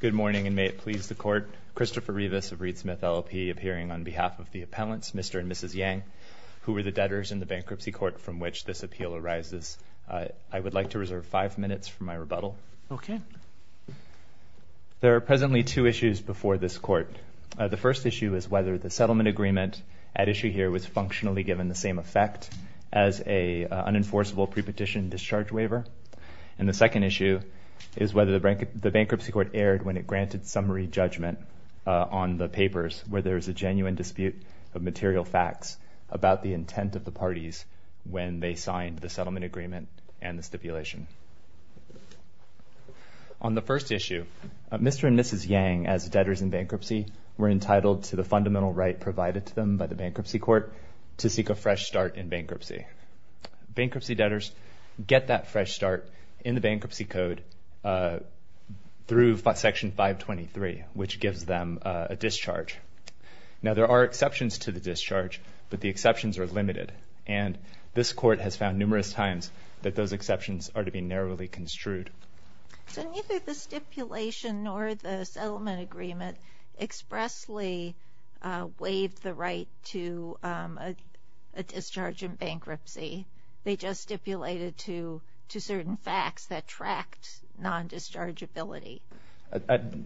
Good morning, and may it please the Court. Christopher Rivas of Reed Smith LLP, appearing on behalf of the appellants, Mr. and Mrs. Yang, who were the debtors in the bankruptcy court from which this appeal arises. I would like to reserve five minutes for my rebuttal. OK. There are presently two issues before this court. The first issue is whether the settlement agreement at issue here was functionally given the same effect as a unenforceable pre-petition discharge waiver. And the second issue is whether the bankruptcy court erred when it granted summary judgment on the papers where there is a genuine dispute of material facts about the intent of the parties when they signed the settlement agreement and the stipulation. On the first issue, Mr. and Mrs. Yang, as debtors in bankruptcy, were entitled to the fundamental right provided to them by the bankruptcy court to seek a fresh start in bankruptcy. Bankruptcy debtors get that fresh start in the bankruptcy code through Section 523, which gives them a discharge. Now, there are exceptions to the discharge, but the exceptions are limited. And this court has found numerous times that those exceptions are to be narrowly construed. So neither the stipulation nor the settlement agreement expressly waived the right to a discharge in bankruptcy. They just stipulated to certain facts that tracked non-dischargeability.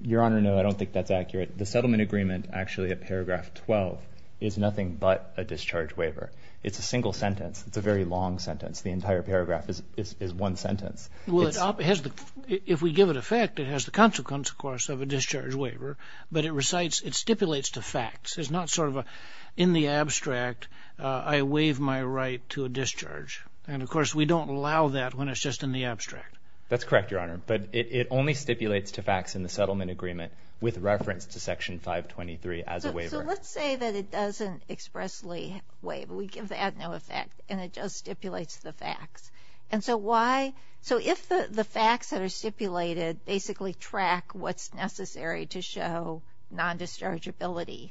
Your Honor, no, I don't think that's accurate. The settlement agreement, actually at paragraph 12, is nothing but a discharge waiver. It's a single sentence. It's a very long sentence. The entire paragraph is one sentence. If we give it effect, it has the consequence, of course, of a discharge waiver. But it recites, it stipulates the facts. It's not sort of a, in the abstract, I waive my right to a discharge. And of course, we don't allow that when it's just in the abstract. That's correct, Your Honor. But it only stipulates to facts in the settlement agreement with reference to Section 523 as a waiver. So let's say that it doesn't expressly waive. We give that no effect, and it just stipulates the facts. And so why? So if the facts that are stipulated basically track what's necessary to show non-dischargeability,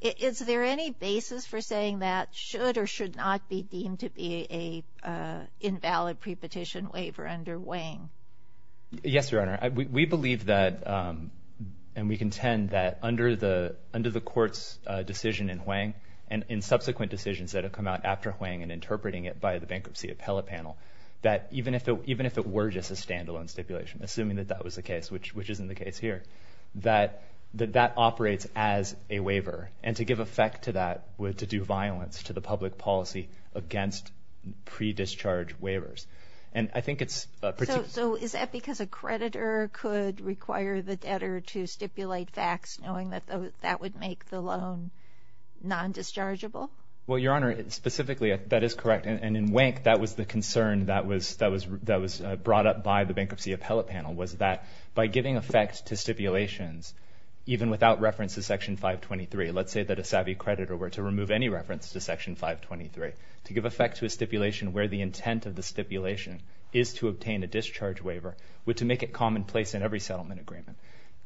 is there any basis for saying that should or should not be deemed to be a invalid pre-petition waiver under Hwang? Yes, Your Honor. We believe that, and we contend that, under the court's decision in Hwang, and in subsequent decisions that have come out after Hwang and interpreting it by the bankruptcy appellate panel, that even if it were just a standalone stipulation, assuming that that was the case, which isn't the case here, that that operates as a waiver. And to give effect to that, to do violence to the public policy against pre-discharge waivers. And I think it's a particular. So is that because a creditor could require the debtor to stipulate facts knowing that that would make the loan non-dischargeable? Well, Your Honor, specifically, that is correct. And in Hwang, that was the concern that was brought up by the bankruptcy appellate panel, was that by giving effect to stipulations, even without reference to Section 523, let's say that a savvy creditor were to remove any reference to Section 523, to give effect to a stipulation where the intent of the stipulation is to obtain a discharge waiver, would to make it commonplace in every settlement agreement.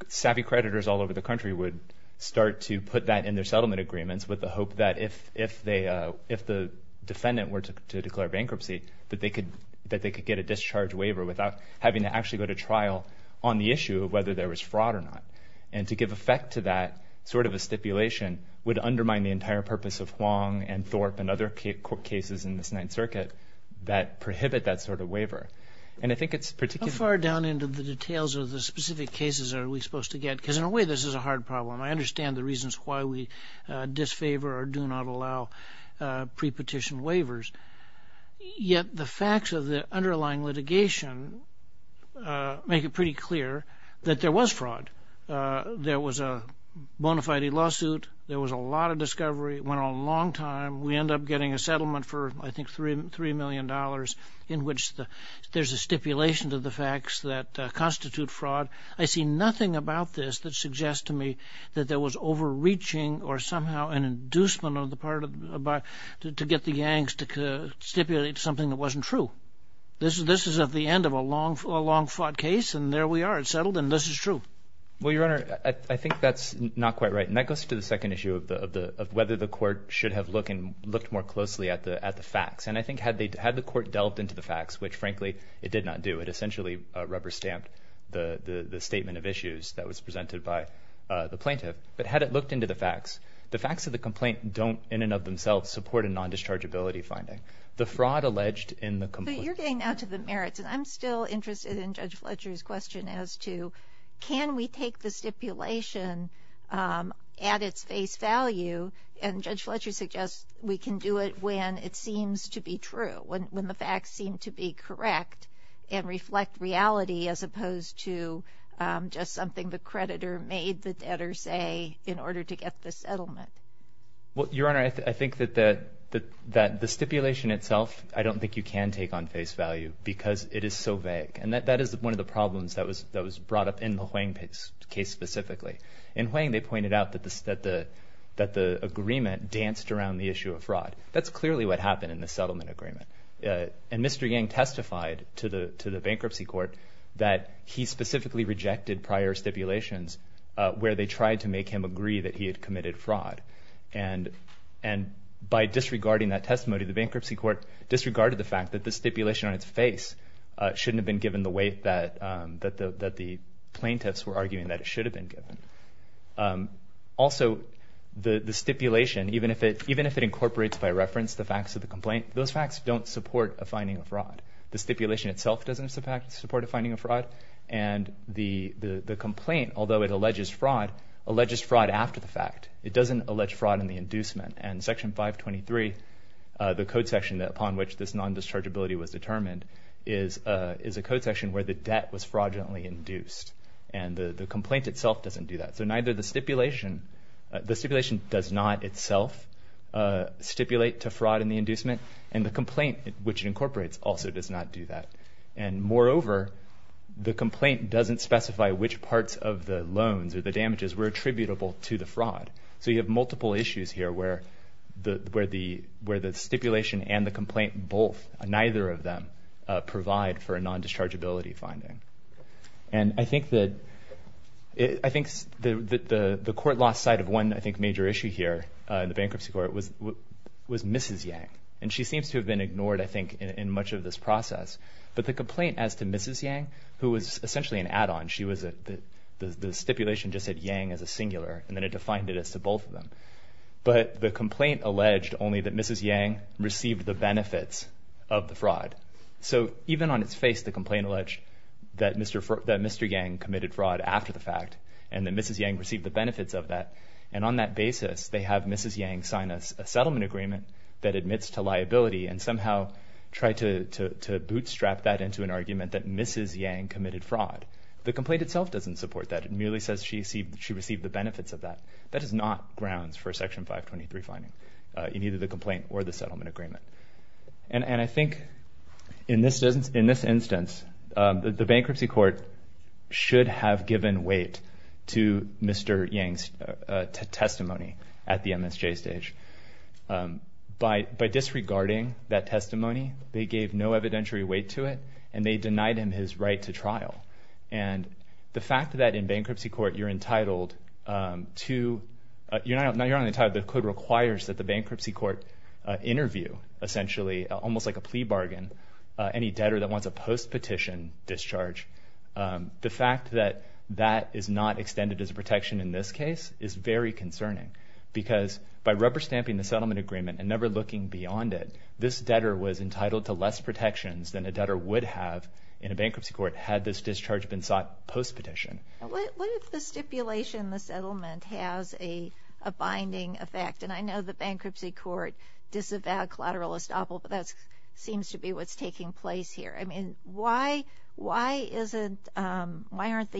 Savvy creditors all over the country would start to put that in their settlement agreements with the hope that if the defendant were to declare bankruptcy, that they could get a discharge waiver without having to actually go to trial on the issue of whether there was fraud or not. And to give effect to that sort of a stipulation would undermine the entire purpose of Hwang and Thorpe and other cases in the Ninth Circuit that prohibit that sort of waiver. And I think it's particular. How far down into the details of the specific cases are we supposed to get? Because in a way, this is a hard problem. I understand the reasons why we disfavor or do not allow pre-petition waivers. Yet the facts of the underlying litigation make it pretty clear that there was fraud. There was a bona fide lawsuit. There was a lot of discovery. It went on a long time. We end up getting a settlement for, I think, $3 million in which there's a stipulation to the facts that constitute fraud. I see nothing about this that suggests to me that there was overreaching or somehow an inducement to get the gangs to stipulate something that wasn't true. This is at the end of a long-fought case. And there we are. It's settled. And this is true. Well, Your Honor, I think that's not quite right. And that goes to the second issue of whether the court should have looked more closely at the facts. And I think had the court delved into the facts, which, frankly, it did not do. It essentially rubber-stamped the statement of issues that was presented by the plaintiff. But had it looked into the facts, the facts of the complaint don't, in and of themselves, support a non-dischargeability finding. The fraud alleged in the complaint. But you're getting now to the merits. And I'm still interested in Judge Fletcher's question as to, can we take the stipulation at its face value? And Judge Fletcher suggests we can do it when it seems to be true, when the facts seem to be correct and reflect reality as opposed to just something the creditor made the debtor say in order to get the settlement. Well, Your Honor, I think that the stipulation itself, I don't think you can take on face value because it is so vague. And that is one of the problems that was brought up in the Huang case specifically. In Huang, they pointed out that the agreement danced around the issue of fraud. That's clearly what happened in the settlement agreement. And Mr. Yang testified to the bankruptcy court that he specifically rejected prior stipulations where they tried to make him agree that he had committed fraud. And by disregarding that testimony, the bankruptcy court disregarded the fact that the stipulation on its face shouldn't have been given the weight that the plaintiffs were arguing that it should have been given. Also, the stipulation, even if it incorporates by reference the facts of the complaint, those facts don't support a finding of fraud. The stipulation itself doesn't support a finding of fraud. And the complaint, although it alleges fraud, alleges fraud after the fact. It doesn't allege fraud in the inducement. And Section 523, the code section upon which this non-dischargeability was determined, is a code section where the debt was fraudulently induced. And the complaint itself doesn't do that. So neither the stipulation. The stipulation does not itself stipulate to fraud in the inducement. And the complaint, which it incorporates, also does not do that. And moreover, the complaint doesn't specify which parts of the loans or the damages were attributable to the fraud. So you have multiple issues here where the stipulation and the complaint both, neither of them, provide for a non-dischargeability finding. And I think the court lost sight of one, I think, major issue here in the bankruptcy court was Mrs. Yang. And she seems to have been ignored, I think, in much of this process. But the complaint as to Mrs. Yang, who was essentially an add-on, the stipulation just said Yang as a singular. And then it defined it as to both of them. But the complaint alleged only that Mrs. Yang received the benefits of the fraud. So even on its face, the complaint alleged that Mr. Yang committed fraud after the fact, and that Mrs. Yang received the benefits of that. And on that basis, they have Mrs. Yang sign a settlement agreement that admits to liability and somehow try to bootstrap that into an argument that Mrs. Yang committed fraud. The complaint itself doesn't support that. It merely says she received the benefits of that. That is not grounds for a Section 523 finding in either the complaint or the settlement agreement. And I think in this instance, the bankruptcy court should have given weight to Mr. Yang's testimony at the MSJ stage. By disregarding that testimony, they gave no evidentiary weight to it, and they denied him his right to trial. And the fact that in bankruptcy court, you're entitled to, you're not only entitled, the code requires that the bankruptcy court interview, essentially, almost like a plea bargain, any debtor that wants a post-petition discharge. The fact that that is not extended as a protection in this case is very concerning. Because by rubber stamping the settlement agreement and never looking beyond it, this debtor was entitled to less protections than a debtor would have in a bankruptcy court had this discharge been sought post-petition. What if the stipulation in the settlement has a binding effect? And I know the bankruptcy court disavowed collateral estoppel, but that seems to be what's taking place here. I mean, why aren't the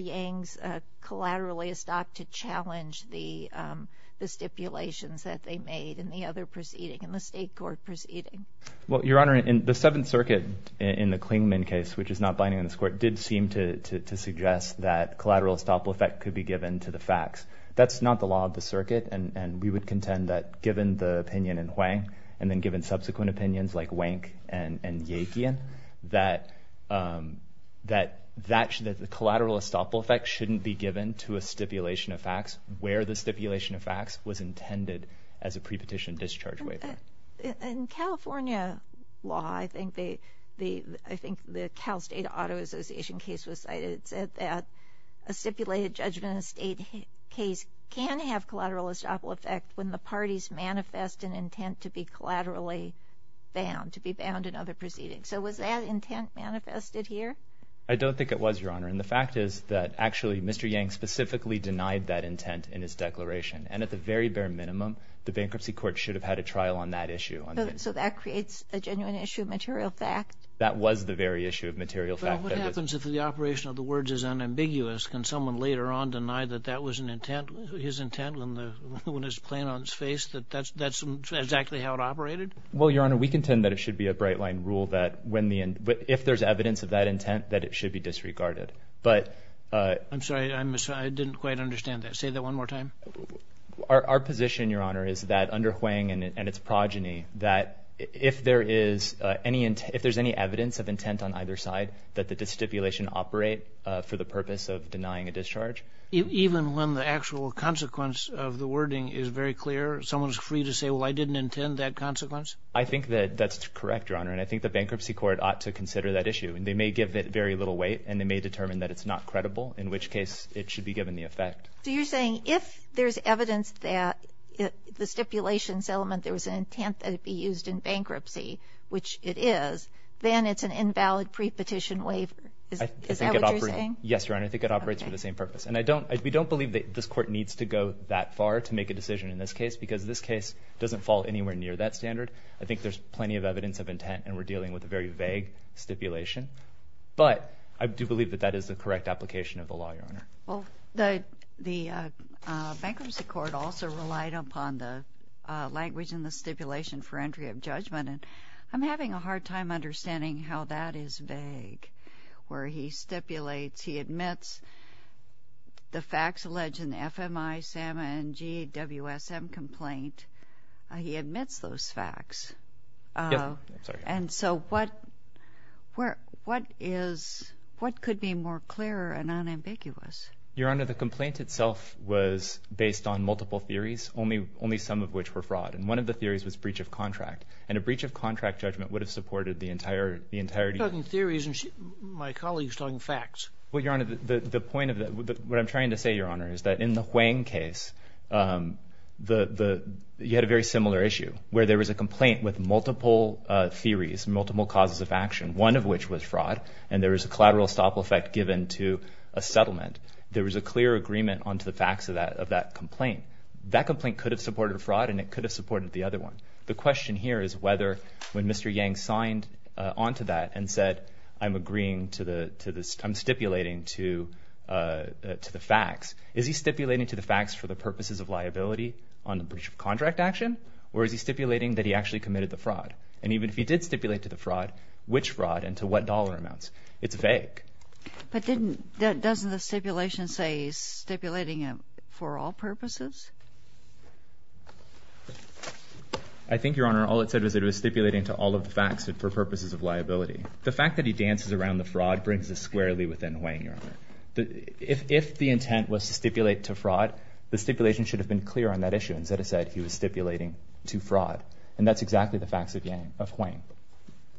Yangs collaterally estopped to challenge the stipulations that they made in the other proceeding, in the state court proceeding? Well, Your Honor, in the Seventh Circuit, in the Klingman case, which is not binding in this court, did seem to suggest that collateral estoppel effect could be given to the facts. That's not the law of the circuit, and we would contend that given the opinion in Huang, and then given subsequent opinions like Wank and Yekian, that the collateral estoppel effect shouldn't be given to a stipulation of facts where the stipulation of facts was intended as a pre-petition discharge waiver. In California law, I think the Cal State Auto Association case was cited, said that a stipulated judgment in a state case can have collateral estoppel effect when the parties manifest an intent to be collaterally bound, to be bound in other proceedings. So was that intent manifested here? I don't think it was, Your Honor. And the fact is that actually, Mr. Yang specifically denied that intent in his declaration. And at the very bare minimum, the bankruptcy court should have had a trial on that issue. So that creates a genuine issue of material fact? That was the very issue of material fact. Well, what happens if the operation of the words is unambiguous? Can someone later on deny that that was an intent, his intent, when his plaint on his face, that that's exactly how it operated? Well, Your Honor, we contend that it should be a bright line rule that if there's evidence of that intent, that it should be disregarded. But I'm sorry, I didn't quite understand that. Say that one more time. Our position, Your Honor, is that under Huang and its progeny, that if there's any evidence of intent on either side, that the stipulation operate for the purpose of denying a discharge. Even when the actual consequence of the wording is very clear, someone's free to say, well, I didn't intend that consequence? I think that that's correct, Your Honor. And I think the bankruptcy court ought to consider that issue. And they may give it very little weight, and they may determine that it's not credible, in which case it should be given the effect. So you're saying if there's evidence that the stipulation settlement, there was an intent that it be used in bankruptcy, which it is, then it's an invalid pre-petition waiver. Is that what you're saying? Yes, Your Honor. I think it operates for the same purpose. And we don't believe that this court needs to go that far to make a decision in this case, because this case doesn't fall anywhere near that standard. I think there's plenty of evidence of intent, and we're dealing with a very vague stipulation. But I do believe that that is the correct application of the law, Your Honor. Well, the bankruptcy court also relied upon the language in the stipulation for entry of judgment. And I'm having a hard time understanding how that is vague, where he stipulates, he admits the facts alleged in the FMI, SAM, and GWSM complaint. He admits those facts. Yes. I'm sorry. And so what is, what could be more clear and unambiguous? Your Honor, the complaint itself was based on multiple theories, only some of which were fraud. And one of the theories was breach of contract. And a breach of contract judgment would have supported the entirety of it. You're talking theories, and my colleague's talking facts. Well, Your Honor, the point of that, what I'm trying to say, Your Honor, is that in the Huang case, you had a very similar issue, where there was a complaint with multiple theories, multiple causes of action, one of which was fraud. And there was a collateral estoppel effect given to a settlement. There was a clear agreement onto the facts of that complaint. That complaint could have supported fraud, and it could have supported the other one. The question here is whether, when Mr. Yang signed onto that and said, I'm agreeing to the, I'm stipulating to the facts, is he stipulating to the facts for the purposes of liability on the breach of contract action? Or is he stipulating that he actually committed the fraud? And even if he did stipulate to the fraud, which fraud, and to what dollar amounts? It's vague. But didn't, doesn't the stipulation say he's stipulating it for all purposes? I think, Your Honor, all it said was it was stipulating to all of the facts for purposes of liability. The fact that he dances around the fraud brings us squarely within Huang, Your Honor. If the intent was to stipulate to fraud, the stipulation should have been clear on that issue, instead of saying he was stipulating to fraud. And that's exactly the facts of Yang, of Huang.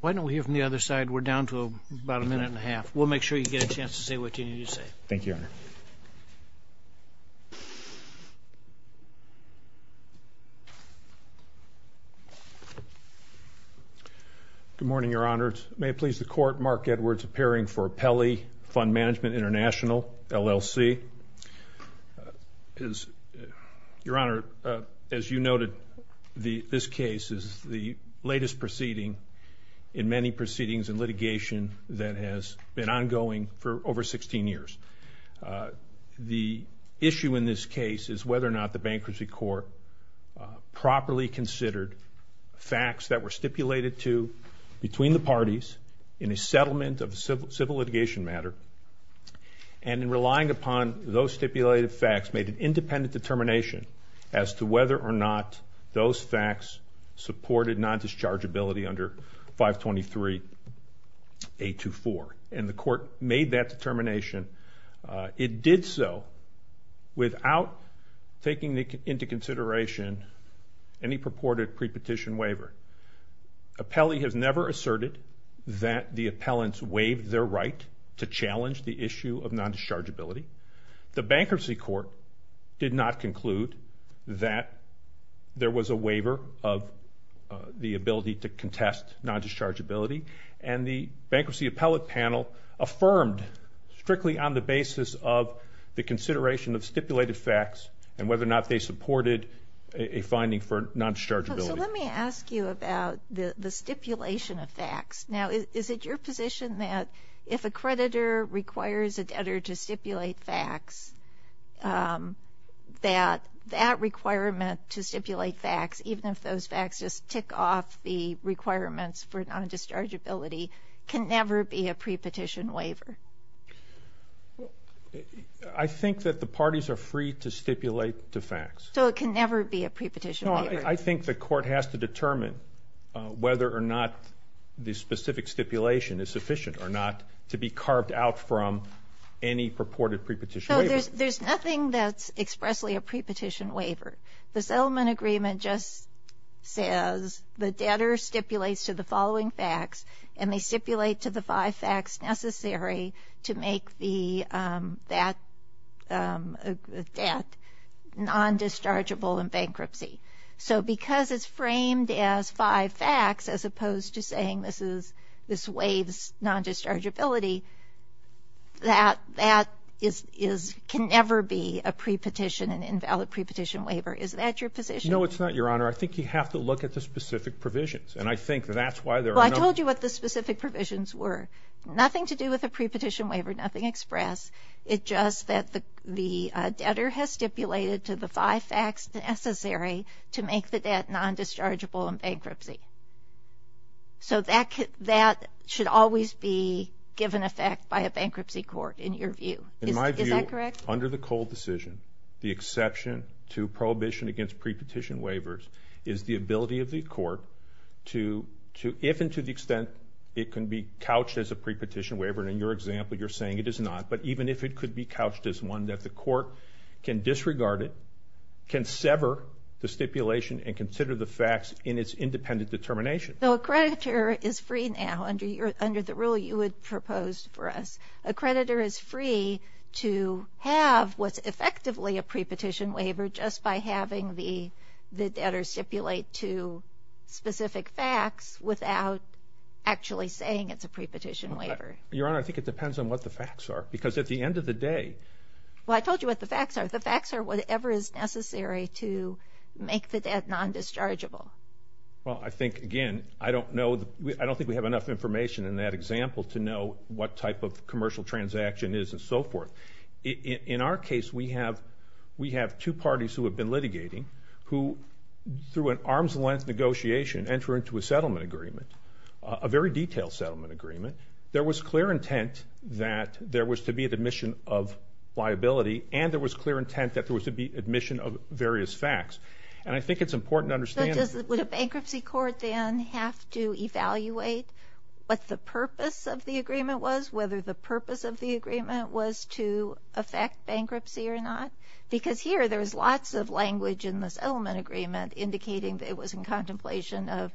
Why don't we hear from the other side? We're down to about a minute and a half. We'll make sure you get a chance to say what you need to say. Thank you, Your Honor. Good morning, Your Honor. May it please the Court, Mark Edwards, appearing for Pelley Fund Management International, LLC. As, Your Honor, as you noted, this case is the latest proceeding in many proceedings in litigation that has been ongoing for over 16 years. The issue in this case is whether or not the Bankruptcy Court properly considered facts that were stipulated to between the parties in a settlement of civil litigation matter, and in relying upon those stipulated facts, made an independent determination as to whether or not those facts supported non-dischargeability under 523.824. And the Court made that determination. It did so without taking into consideration any purported pre-petition waiver. A Pelley has never asserted that the appellants waived their right to challenge the issue of non-dischargeability. The Bankruptcy Court did not conclude that there was a waiver of the ability to contest non-dischargeability. And the Bankruptcy Appellate Panel affirmed strictly on the basis of the consideration of stipulated facts and whether or not they supported a finding for non-dischargeability. So let me ask you about the stipulation of facts. Now, is it your position that if a creditor requires a debtor to stipulate facts, that that requirement to stipulate facts, even if those facts just tick off the requirements for non-dischargeability, can never be a pre-petition waiver? I think that the parties are free to stipulate the facts. So it can never be a pre-petition waiver? No, I think the Court has to determine whether or not the specific stipulation is sufficient or not to be carved out from any purported pre-petition waiver. There's nothing that's expressly a pre-petition waiver. The settlement agreement just says the debtor stipulates to the following facts, and they stipulate to the five facts necessary to make that debt non-dischargeable in bankruptcy. So because it's framed as five facts, as opposed to saying this waives non-dischargeability, that that can never be a pre-petition, an invalid pre-petition waiver. Is that your position? No, it's not, Your Honor. I think you have to look at the specific provisions. And I think that that's why there are no- Well, I told you what the specific provisions were. Nothing to do with a pre-petition waiver, nothing express, it's just that the debtor has stipulated to the five facts necessary to make the debt non-dischargeable in bankruptcy. So that should always be given effect by a bankruptcy court, in your view. In my view, under the Cole decision, the exception to prohibition against pre-petition waivers is the ability of the court to, if and to the extent it can be couched as a pre-petition waiver, and in your example, you're saying it is not, but even if it could be couched as one that the court can disregard it, can sever the stipulation and consider the facts in its independent determination. So a creditor is free now, under the rule you had proposed for us. A creditor is free to have what's effectively a pre-petition waiver just by having the debtor stipulate to specific facts without actually saying it's a pre-petition waiver. Your Honor, I think it depends on what the facts are. Because at the end of the day- Well, I told you what the facts are. The facts are whatever is necessary to make the debt non-dischargeable. Well, I think, again, I don't think we have enough information in that example to know what type of commercial transaction is and so forth. In our case, we have two parties who have been litigating who, through an arm's length negotiation, enter into a settlement agreement, a very detailed settlement agreement. There was clear intent that there was to be an admission of liability, and there was clear intent that there was to be admission of various facts. And I think it's important to understand- But would a bankruptcy court then have to evaluate what the purpose of the agreement was, whether the purpose of the agreement was to affect bankruptcy or not? Because here, there's lots of language in the settlement agreement indicating that it was in contemplation of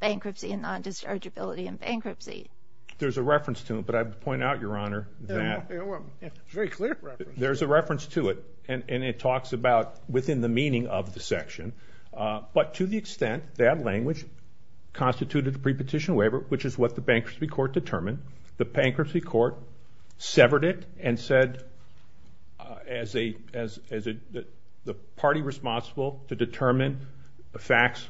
bankruptcy and non-dischargeability in bankruptcy. There's a reference to it, but I'd point out, Your Honor, that- It's a very clear reference. There's a reference to it, and it talks about within the meaning of the section. But to the extent that language constituted the prepetition waiver, which is what the bankruptcy court determined, the bankruptcy court severed it and said, as the party responsible to determine the facts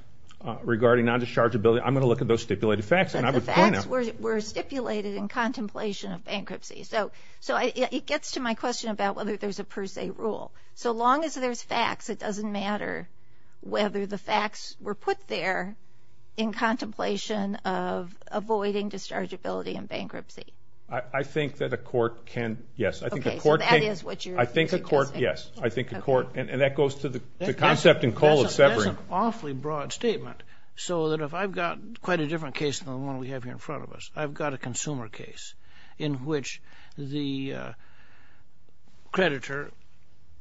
regarding non-dischargeability, I'm going to look at those stipulated facts, and I would point out- But the facts were stipulated in contemplation of bankruptcy. So it gets to my question about whether there's a per se rule. So long as there's facts, it doesn't matter whether the facts were put there in contemplation of avoiding dischargeability in bankruptcy. I think that a court can- Yes, I think a court can- OK, so that is what you're suggesting. I think a court- Yes, I think a court- And that goes to the concept and call of severing. That's an awfully broad statement. So that if I've got quite a different case than the one we have here in front of us, I've got a consumer case in which the creditor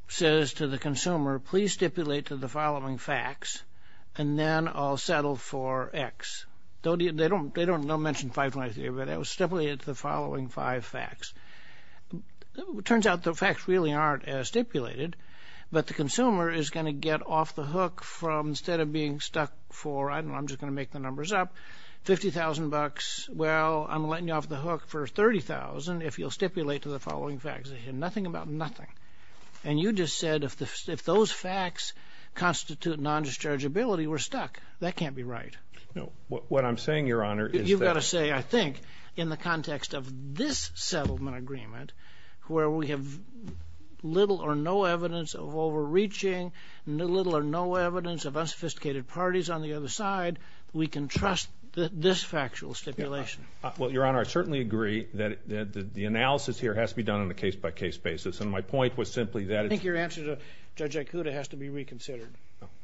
says to the consumer, please stipulate to the following facts, and then I'll settle for x. They don't mention 523, but it was stipulated to the following five facts. Turns out the facts really aren't as stipulated, but the consumer is going to get off the hook from, instead of being stuck for, I don't know, I'm just going to make the numbers up, $50,000. Well, I'm letting you off the hook for $30,000 if you'll stipulate to the following facts. They hear nothing about nothing. And you just said if those facts constitute non-dischargeability, we're stuck. That can't be right. What I'm saying, Your Honor, is that- You've got to say, I think, in the context of this settlement agreement, where we have little or no evidence of overreaching, little or no evidence of unsophisticated parties on the other side, we can trust this factual stipulation. Well, Your Honor, I certainly agree that the analysis here has to be done on a case-by-case basis. And my point was simply that- I think your answer to Judge Ikuta has to be reconsidered.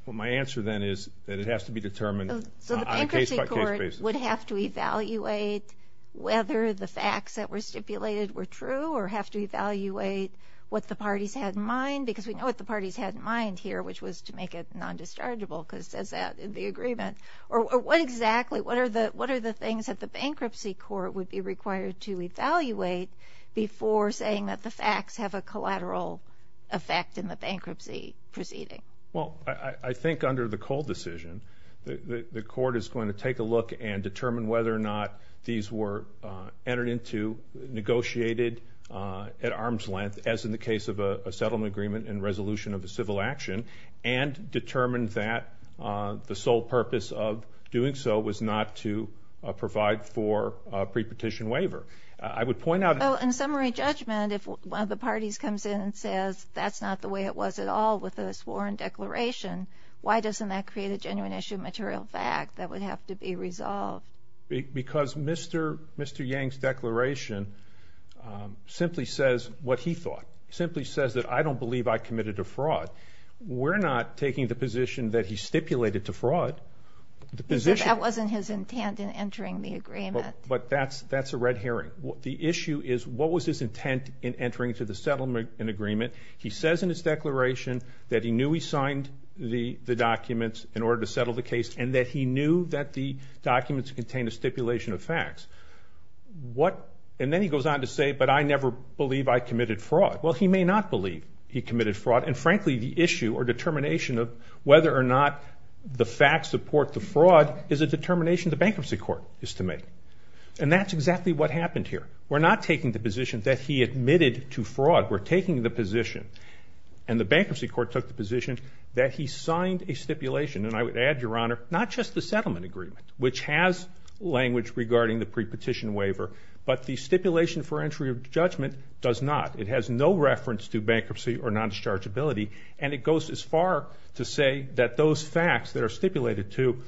Well, my answer then is that it has to be determined on a case-by-case basis. So the bankruptcy court would have to evaluate whether the facts that were stipulated were true, or have to evaluate what the parties had in mind, because we know what the parties had in mind here, which was to make it non-dischargeable, because it says that in the agreement. Or what exactly- what are the things that the bankruptcy court would be required to evaluate before saying that the facts have a collateral effect in the bankruptcy proceeding? Well, I think under the Cole decision, the court is going to take a look and determine whether or not these were entered into, negotiated at arm's length, as in the case of a settlement agreement and resolution of a civil action, and determine that the sole purpose of doing so was not to provide for a pre-petition waiver. I would point out- Well, in summary judgment, if one of the parties comes in and says, that's not the way it was at all with the sworn declaration, why doesn't that create a genuine issue of material fact that would have to be resolved? Because Mr. Yang's declaration simply says what he thought, simply says that I don't believe I committed a fraud. We're not taking the position that he stipulated to fraud. The position- That wasn't his intent in entering the agreement. But that's a red herring. The issue is, what was his intent in entering into the settlement agreement? He says in his declaration that he knew he signed the documents in order to settle the case, and that he knew that the documents contained a stipulation of facts. And then he goes on to say, but I never believe I committed fraud. Well, he may not believe he committed fraud. And frankly, the issue or determination of whether or not the facts support the fraud is a determination the bankruptcy court is to make. And that's exactly what happened here. We're not taking the position that he admitted to fraud. We're taking the position, and the bankruptcy court took the position, that he signed a stipulation. And I would add, Your Honor, not just the settlement agreement, which has language regarding the pre-petition waiver, but the stipulation for entry of judgment does not. It has no reference to bankruptcy or non-dischargeability. And it goes as far to say that those facts that are stipulated to,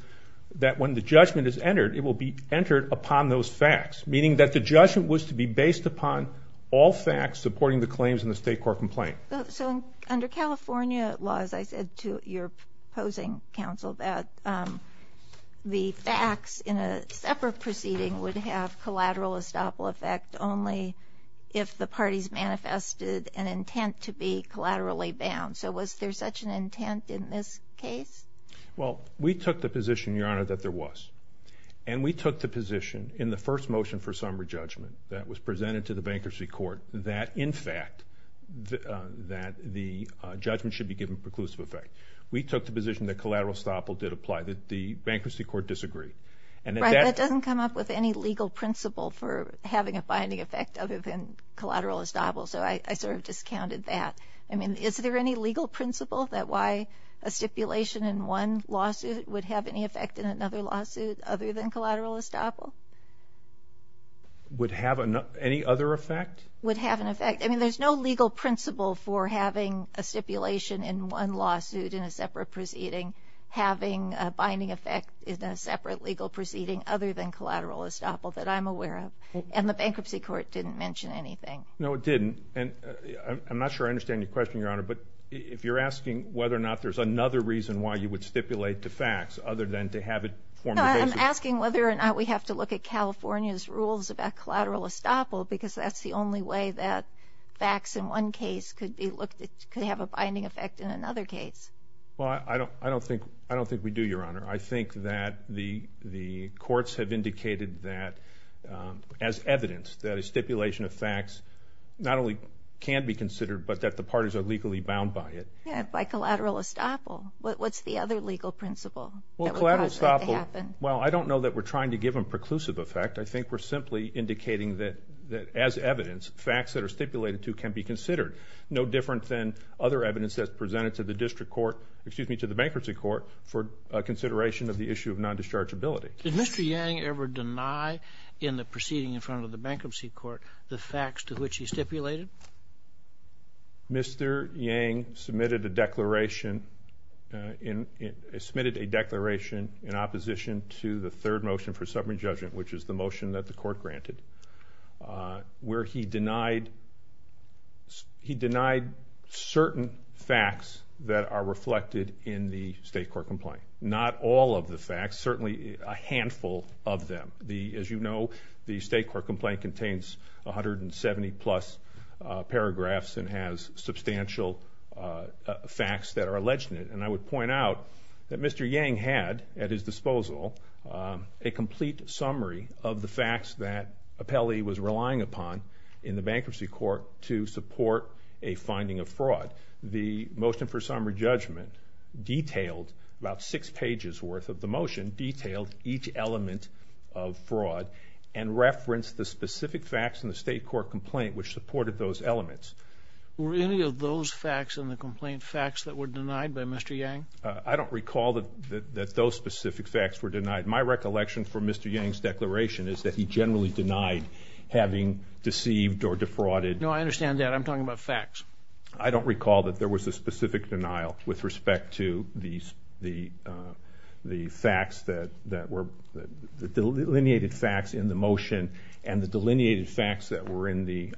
that when the judgment is entered, it will be entered upon those facts, meaning that the judgment was to be based upon all facts supporting the claims in the state court complaint. So under California laws, I said to your opposing counsel that the facts in a separate proceeding would have collateral estoppel effect only if the parties manifested an intent to be collaterally bound. So was there such an intent in this case? Well, we took the position, Your Honor, that there was. And we took the position in the first motion for summary judgment that was presented to the bankruptcy court that, in fact, that the judgment should be given preclusive effect. We took the position that collateral estoppel did apply, that the bankruptcy court disagreed. And that doesn't come up with any legal principle for having a binding effect other than collateral estoppel. So I sort of discounted that. I mean, is there any legal principle that why a stipulation in one lawsuit would have any effect in another lawsuit other than collateral estoppel? Would have any other effect? Would have an effect. I mean, there's no legal principle for having a stipulation in one lawsuit in a separate proceeding having a binding effect in a separate legal proceeding other than collateral estoppel that I'm aware of. And the bankruptcy court didn't mention anything. No, it didn't. And I'm not sure I understand your question, Your Honor. But if you're asking whether or not there's another reason why you would stipulate to facts other than to have it form the basis. I'm asking whether or not we have to look at California's rules about collateral estoppel, because that's the only way that facts in one case could have a binding effect in another case. Well, I don't think we do, Your Honor. I think that the courts have indicated that, as evidence, that a stipulation of facts not only can be considered, but that the parties are legally bound by it. By collateral estoppel. What's the other legal principle? Well, collateral estoppel. Well, I don't know that we're trying to give them preclusive effect. I think we're simply indicating that, as evidence, facts that are stipulated to can be considered. No different than other evidence that's presented to the district court, excuse me, to the bankruptcy court, for consideration of the issue of non-dischargeability. Did Mr. Yang ever deny in the proceeding in front of the bankruptcy court the facts to which he stipulated? Mr. Yang submitted a declaration in opposition to the third motion for subpoena judgment, which is the motion that the court granted, where he denied certain facts that are reflected in the state court complaint. Not all of the facts, certainly a handful of them. As you know, the state court complaint contains 170 plus paragraphs and has substantial facts that are alleged in it. And I would point out that Mr. Yang had, at his disposal, a complete summary of the facts that Appelli was relying upon in the bankruptcy court to support a finding of fraud. The motion for summary judgment detailed about six pages worth of the motion, detailed each element of fraud, and referenced the specific facts in the state court complaint which supported those elements. Were any of those facts in the complaint facts that were denied by Mr. Yang? I don't recall that those specific facts were denied. My recollection from Mr. Yang's declaration is that he generally denied having deceived or defrauded. No, I understand that. I'm talking about facts. I don't recall that there was a specific denial with respect to the delineated facts in the motion and the delineated facts that were in the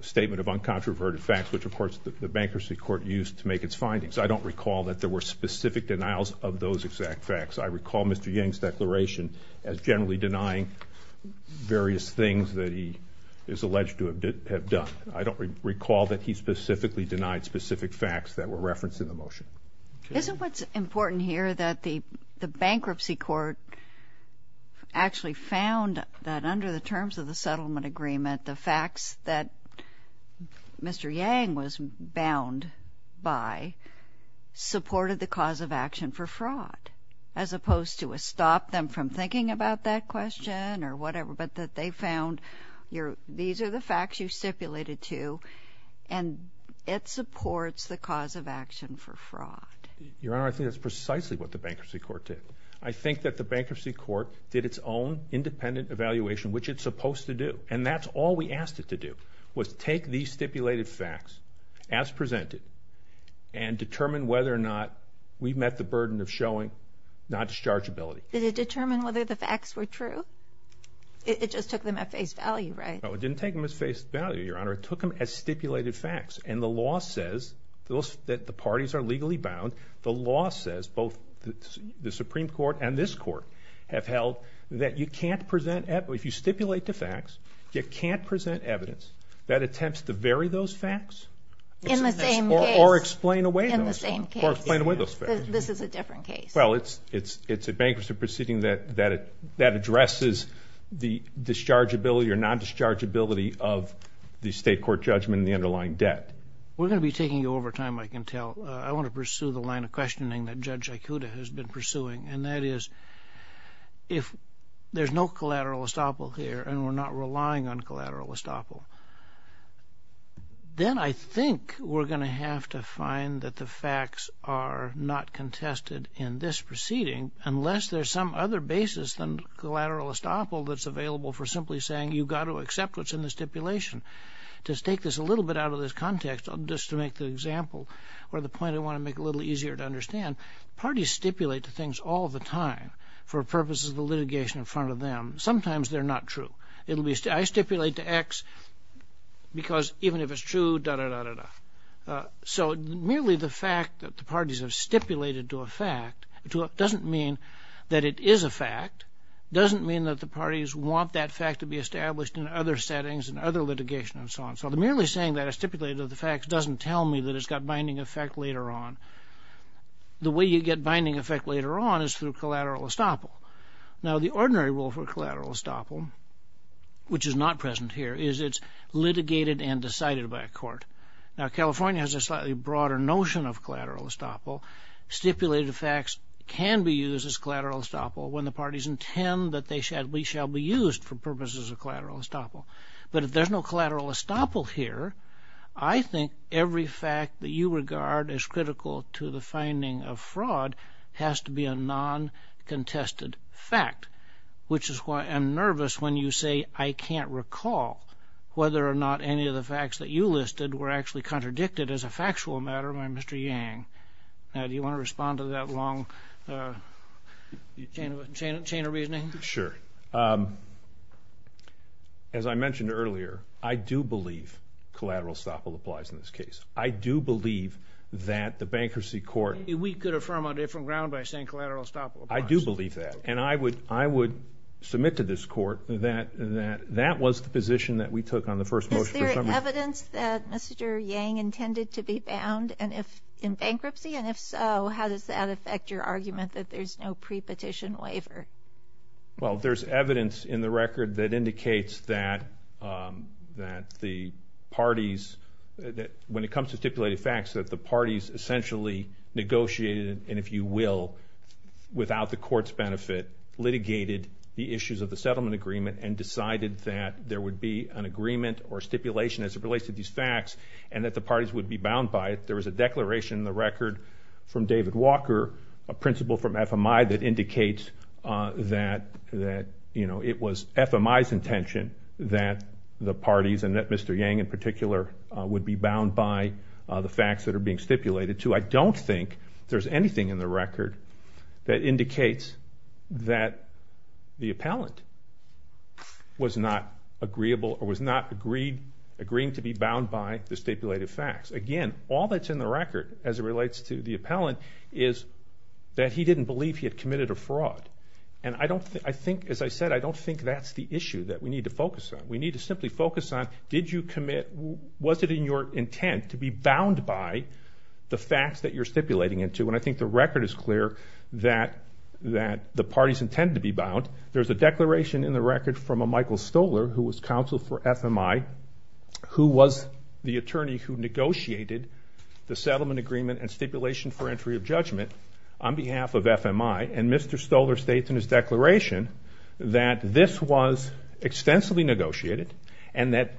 statement of uncontroverted facts, which of course the bankruptcy court used to make its findings. I don't recall that there were specific denials of those exact facts. I recall Mr. Yang's declaration as generally denying various things that he is alleged to have done. I don't recall that he specifically denied specific facts that were referenced in the motion. Isn't what's important here that the bankruptcy court actually found that under the terms of the settlement agreement, the facts that Mr. Yang was bound by supported the cause of action for fraud, as opposed to a stop them from thinking about that question or whatever, but that they found these are the facts you stipulated to, and it supports the cause of action for fraud? Your Honor, I think that's precisely what the bankruptcy court did. I think that the bankruptcy court did its own independent evaluation, which it's supposed to do. And that's all we asked it to do, was take these stipulated facts as presented and determine whether or not we met the burden of showing non-dischargeability. Did it determine whether the facts were true? It just took them at face value, right? No, it didn't take them at face value, Your Honor. It took them as stipulated facts. And the law says that the parties are legally bound. The law says, both the Supreme Court and this court have held, that you can't present evidence. If you stipulate the facts, you can't present evidence. That attempts to vary those facts. In the same case. Or explain away those facts. In the same case. Or explain away those facts. This is a different case. Well, it's a bankruptcy proceeding that addresses the dischargeability or non-dischargeability of the state court judgment and the underlying debt. We're going to be taking you over time, I can tell. I want to pursue the line of questioning that Judge Aikuda has been pursuing. And that is, if there's no collateral estoppel here and we're not relying on collateral estoppel, then I think we're going to have to find that the facts are not contested in this proceeding, unless there's some other basis than collateral estoppel that's available for simply saying, you've got to accept what's in the stipulation. To take this a little bit out of this context, just to make the example, or the point I want to make a little easier to understand, parties stipulate things all the time for purposes of the litigation in front of them. Sometimes they're not true. I stipulate to X because even if it's true, da, da, da, da, da. So merely the fact that the parties have stipulated it to a fact doesn't mean that it is a fact, doesn't mean that the parties want that fact to be established in other settings and other litigation and so on. So merely saying that I stipulated the fact doesn't tell me that it's got binding effect later on. The way you get binding effect later on is through collateral estoppel. Now, the ordinary rule for collateral estoppel, which is not present here, is it's litigated and decided by a court. Now, California has a slightly broader notion of collateral estoppel. Stipulated facts can be used as collateral estoppel when the parties intend that they shall be used for purposes of collateral estoppel. But if there's no collateral estoppel here, I think every fact that you regard as critical to the finding of fraud has to be a non-contested fact, which is why I'm nervous when you say I can't recall whether or not any of the facts that you listed were actually Yang. Now, do you want to respond to that long chain of reasoning? Sure. As I mentioned earlier, I do believe collateral estoppel applies in this case. I do believe that the bankruptcy court We could affirm on different ground by saying collateral estoppel applies. I do believe that. And I would submit to this court that that was the position that we took on the first motion for summary. Is there evidence that Mr. Yang intended to be bound? In bankruptcy? And if so, how does that affect your argument that there's no pre-petition waiver? Well, there's evidence in the record that indicates that the parties, when it comes to stipulated facts, that the parties essentially negotiated, and if you will, without the court's benefit, litigated the issues of the settlement agreement and decided that there would be an agreement or stipulation as it relates to these facts, and that the parties would be bound by it. There was a declaration in the record from David Walker, a principal from FMI, that indicates that it was FMI's intention that the parties, and that Mr. Yang in particular, would be bound by the facts that are being stipulated to. I don't think there's anything in the record that indicates that the appellant was not agreeable or was not agreeing to be bound by the stipulated facts. Again, all that's in the record, as it relates to the appellant, is that he didn't believe he had committed a fraud. And I don't think, as I said, I don't think that's the issue that we need to focus on. We need to simply focus on, was it in your intent to be bound by the facts that you're stipulating into? And I think the record is clear that the parties intended to be bound. There's a declaration in the record from a Michael Stoler, who was counsel for FMI, who was the attorney who negotiated the settlement agreement and stipulation for entry of judgment on behalf of FMI. And Mr. Stoler states in his declaration that this was extensively negotiated and that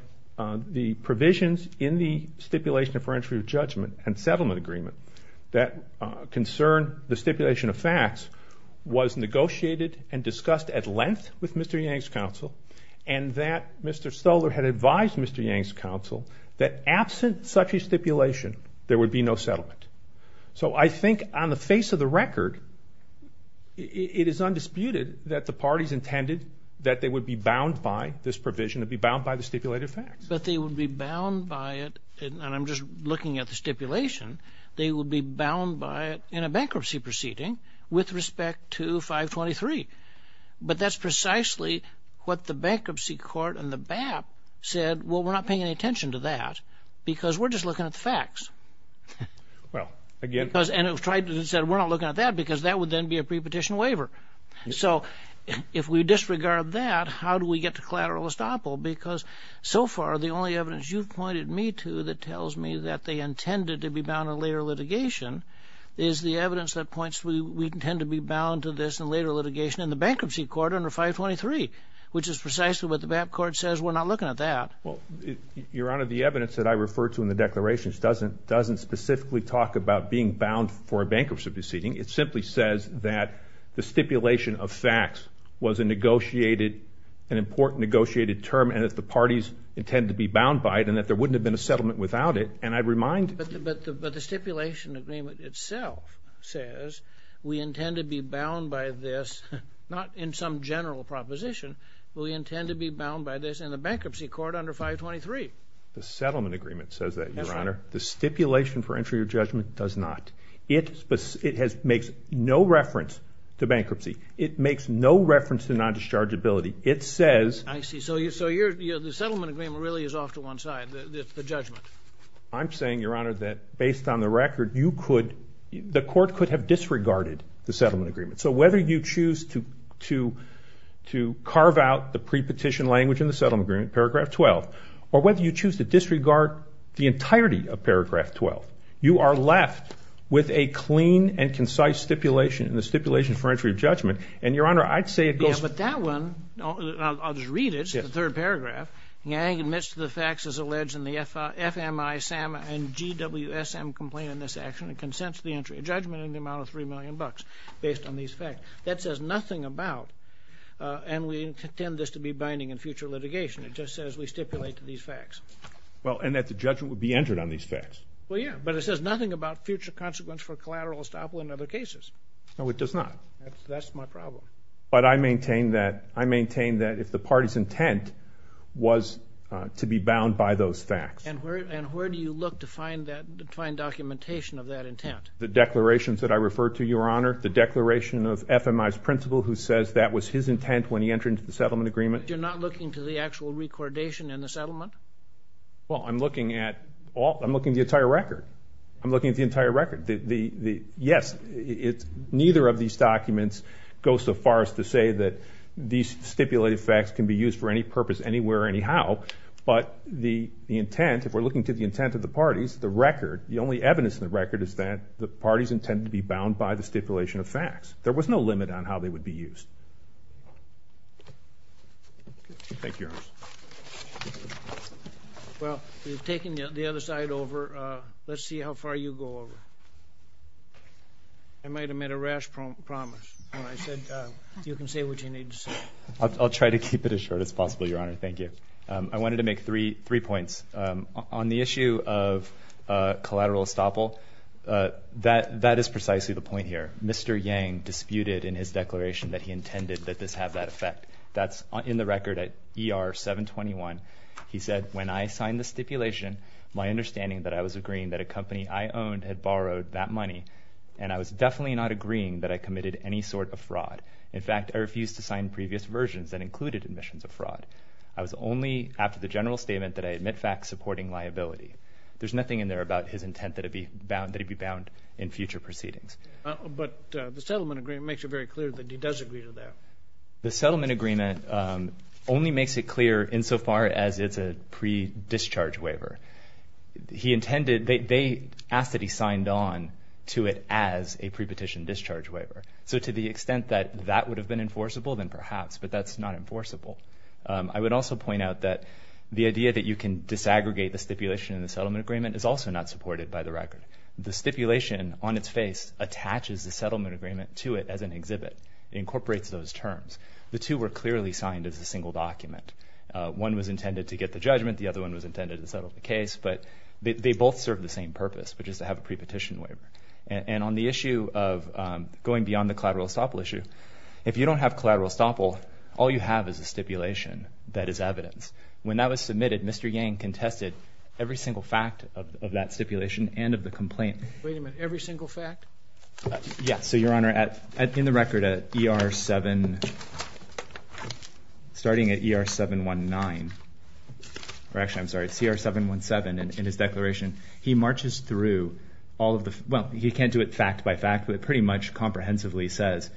the provisions in the stipulation for entry of judgment and settlement agreement that concerned the stipulation of facts was negotiated and discussed at length with Mr. Yang's counsel and that Mr. Stoler had advised Mr. Yang's counsel that absent such a stipulation, there would be no settlement. So I think on the face of the record, it is undisputed that the parties intended that they would be bound by this provision, to be bound by the stipulated facts. But they would be bound by it, and I'm just looking at the stipulation, they would be bound by it in a bankruptcy proceeding with respect to 523. But that's precisely what the bankruptcy court and the BAP said, well, we're not paying any attention to that, because we're just looking at the facts. Well, again. And it said, we're not looking at that, because that would then be a prepetition waiver. So if we disregard that, how do we get to collateral estoppel? Because so far, the only evidence you've pointed me to that tells me that they intended to be bound in later litigation is the evidence that points to we intend to be bound to this in later litigation in the bankruptcy court under 523, which is precisely what the BAP court says, we're not looking at that. Well, Your Honor, the evidence that I refer to in the declarations doesn't specifically talk about being bound for a bankruptcy proceeding. It simply says that the stipulation of facts was a negotiated, an important negotiated term, and that the parties intended to be bound by it, and that there wouldn't have been a settlement without it. And I remind you. But the stipulation agreement itself says we intend to be bound by this, not in some general proposition, but we intend to be bound by this in the bankruptcy court under 523. The settlement agreement says that, Your Honor. The stipulation for entry of judgment does not. It makes no reference to bankruptcy. It makes no reference to non-dischargeability. It says. I see. So the settlement agreement really is off to one side, the judgment. I'm saying, Your Honor, that based on the record, the court could have disregarded the settlement agreement. So whether you choose to carve out the pre-petition language in the settlement agreement, paragraph 12, or whether you choose to disregard the entirety of paragraph 12, you are left with a clean and concise stipulation in the stipulation for entry of judgment. And Your Honor, I'd say it goes. Yeah, but that one, I'll just read it. It's the third paragraph. Yang admits to the facts as alleged in the FMI-SAM and GWSM complaint in this action and consents to the entry of judgment in the amount of $3 million based on these facts. That says nothing about, and we intend this to be binding in future litigation, it just says we stipulate to these facts. Well, and that the judgment would be entered on these facts. Well, yeah. But it says nothing about future consequence for collateral estoppel in other cases. No, it does not. That's my problem. But I maintain that if the party's intent was to be bound by those facts. And where do you look to find documentation of that intent? The declarations that I referred to, Your Honor. The declaration of FMI's principal who says that was his intent when he entered into the settlement agreement. But you're not looking to the actual recordation in the settlement? Well, I'm looking at all. I'm looking at the entire record. I'm looking at the entire record. Yes, neither of these documents goes so far as to say that these stipulated facts can be used for any purpose, anywhere, anyhow. But the intent, if we're looking to the intent of the parties, the record, the only evidence in the record is that the parties intend to be bound by the stipulation of facts. There was no limit on how they would be used. Thank you, Your Honor. Well, you've taken the other side over. Let's see how far you go over. I might have made a rash promise when I said you can say what you need to say. I'll try to keep it as short as possible, Your Honor. Thank you. I wanted to make three points. On the issue of collateral estoppel, that is precisely the point here. Mr. Yang disputed in his declaration that he intended that this have that effect. That's in the record at ER 721. He said, when I signed the stipulation, my understanding that I was agreeing that a company I owned had borrowed that money, and I was definitely not agreeing that I committed any sort of fraud. In fact, I refused to sign previous versions that I was only, after the general statement, that I admit facts supporting liability. There's nothing in there about his intent that it be bound in future proceedings. But the settlement agreement makes it very clear that he does agree to that. The settlement agreement only makes it clear insofar as it's a pre-discharge waiver. He intended, they asked that he signed on to it as a pre-petition discharge waiver. So to the extent that that would have been enforceable, then perhaps. But that's not enforceable. I would also point out that the idea that you can disaggregate the stipulation in the settlement agreement is also not supported by the record. The stipulation, on its face, attaches the settlement agreement to it as an exhibit. It incorporates those terms. The two were clearly signed as a single document. One was intended to get the judgment. The other one was intended to settle the case. But they both serve the same purpose, which is to have a pre-petition waiver. And on the issue of going beyond the collateral estoppel issue, if you don't have collateral estoppel, all you have is a stipulation that is evidence. When that was submitted, Mr. Yang contested every single fact of that stipulation and of the complaint. Wait a minute, every single fact? Yes, so Your Honor, in the record at ER 7, starting at ER 719, or actually, I'm sorry, it's CR 717 in his declaration. He marches through all of the, well, he can't do it fact by fact, but pretty much comprehensively says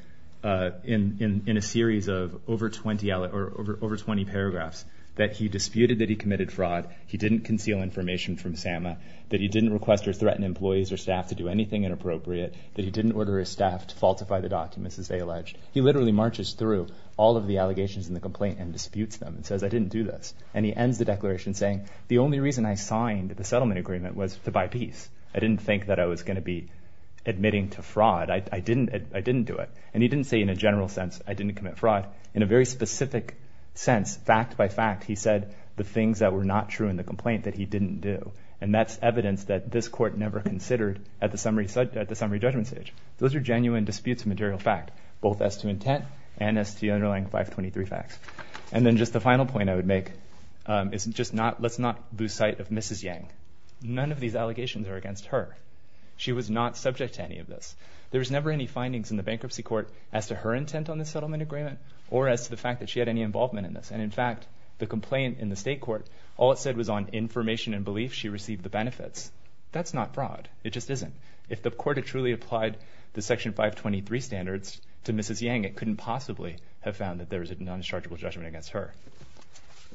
in a series of over 20 paragraphs that he disputed that he committed fraud, he didn't conceal information from SAMA, that he didn't request or threaten employees or staff to do anything inappropriate, that he didn't order his staff to falsify the documents as they alleged. He literally marches through all of the allegations in the complaint and disputes them and says, I didn't do this. And he ends the declaration saying, the only reason I signed the settlement agreement was to buy peace. I didn't think that I was going to be admitting to fraud. I didn't do it. And he didn't say in a general sense, I didn't commit fraud, in a very specific sense, fact by fact, he said the things that were not true in the complaint that he didn't do. And that's evidence that this court never considered at the summary judgment stage. Those are genuine disputes of material fact, both as to intent and as to the underlying 523 facts. And then just the final point I would make is just let's not lose sight of Mrs. Yang. None of these allegations are against her. She was not subject to any of this. There was never any findings in the bankruptcy court as to her intent on the settlement agreement or as to the fact that she had any involvement in this. And in fact, the complaint in the state court, all it said was on information and belief she received the benefits. That's not fraud. It just isn't. If the court had truly applied the Section 523 standards to Mrs. Yang, it couldn't possibly have found that there was a non-dischargeable judgment against her.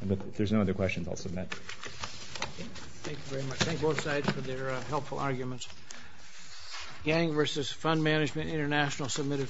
But if there's no other questions, I'll submit. Thank you very much. Thank both sides for their helpful arguments. Yang versus Fund Management International submitted.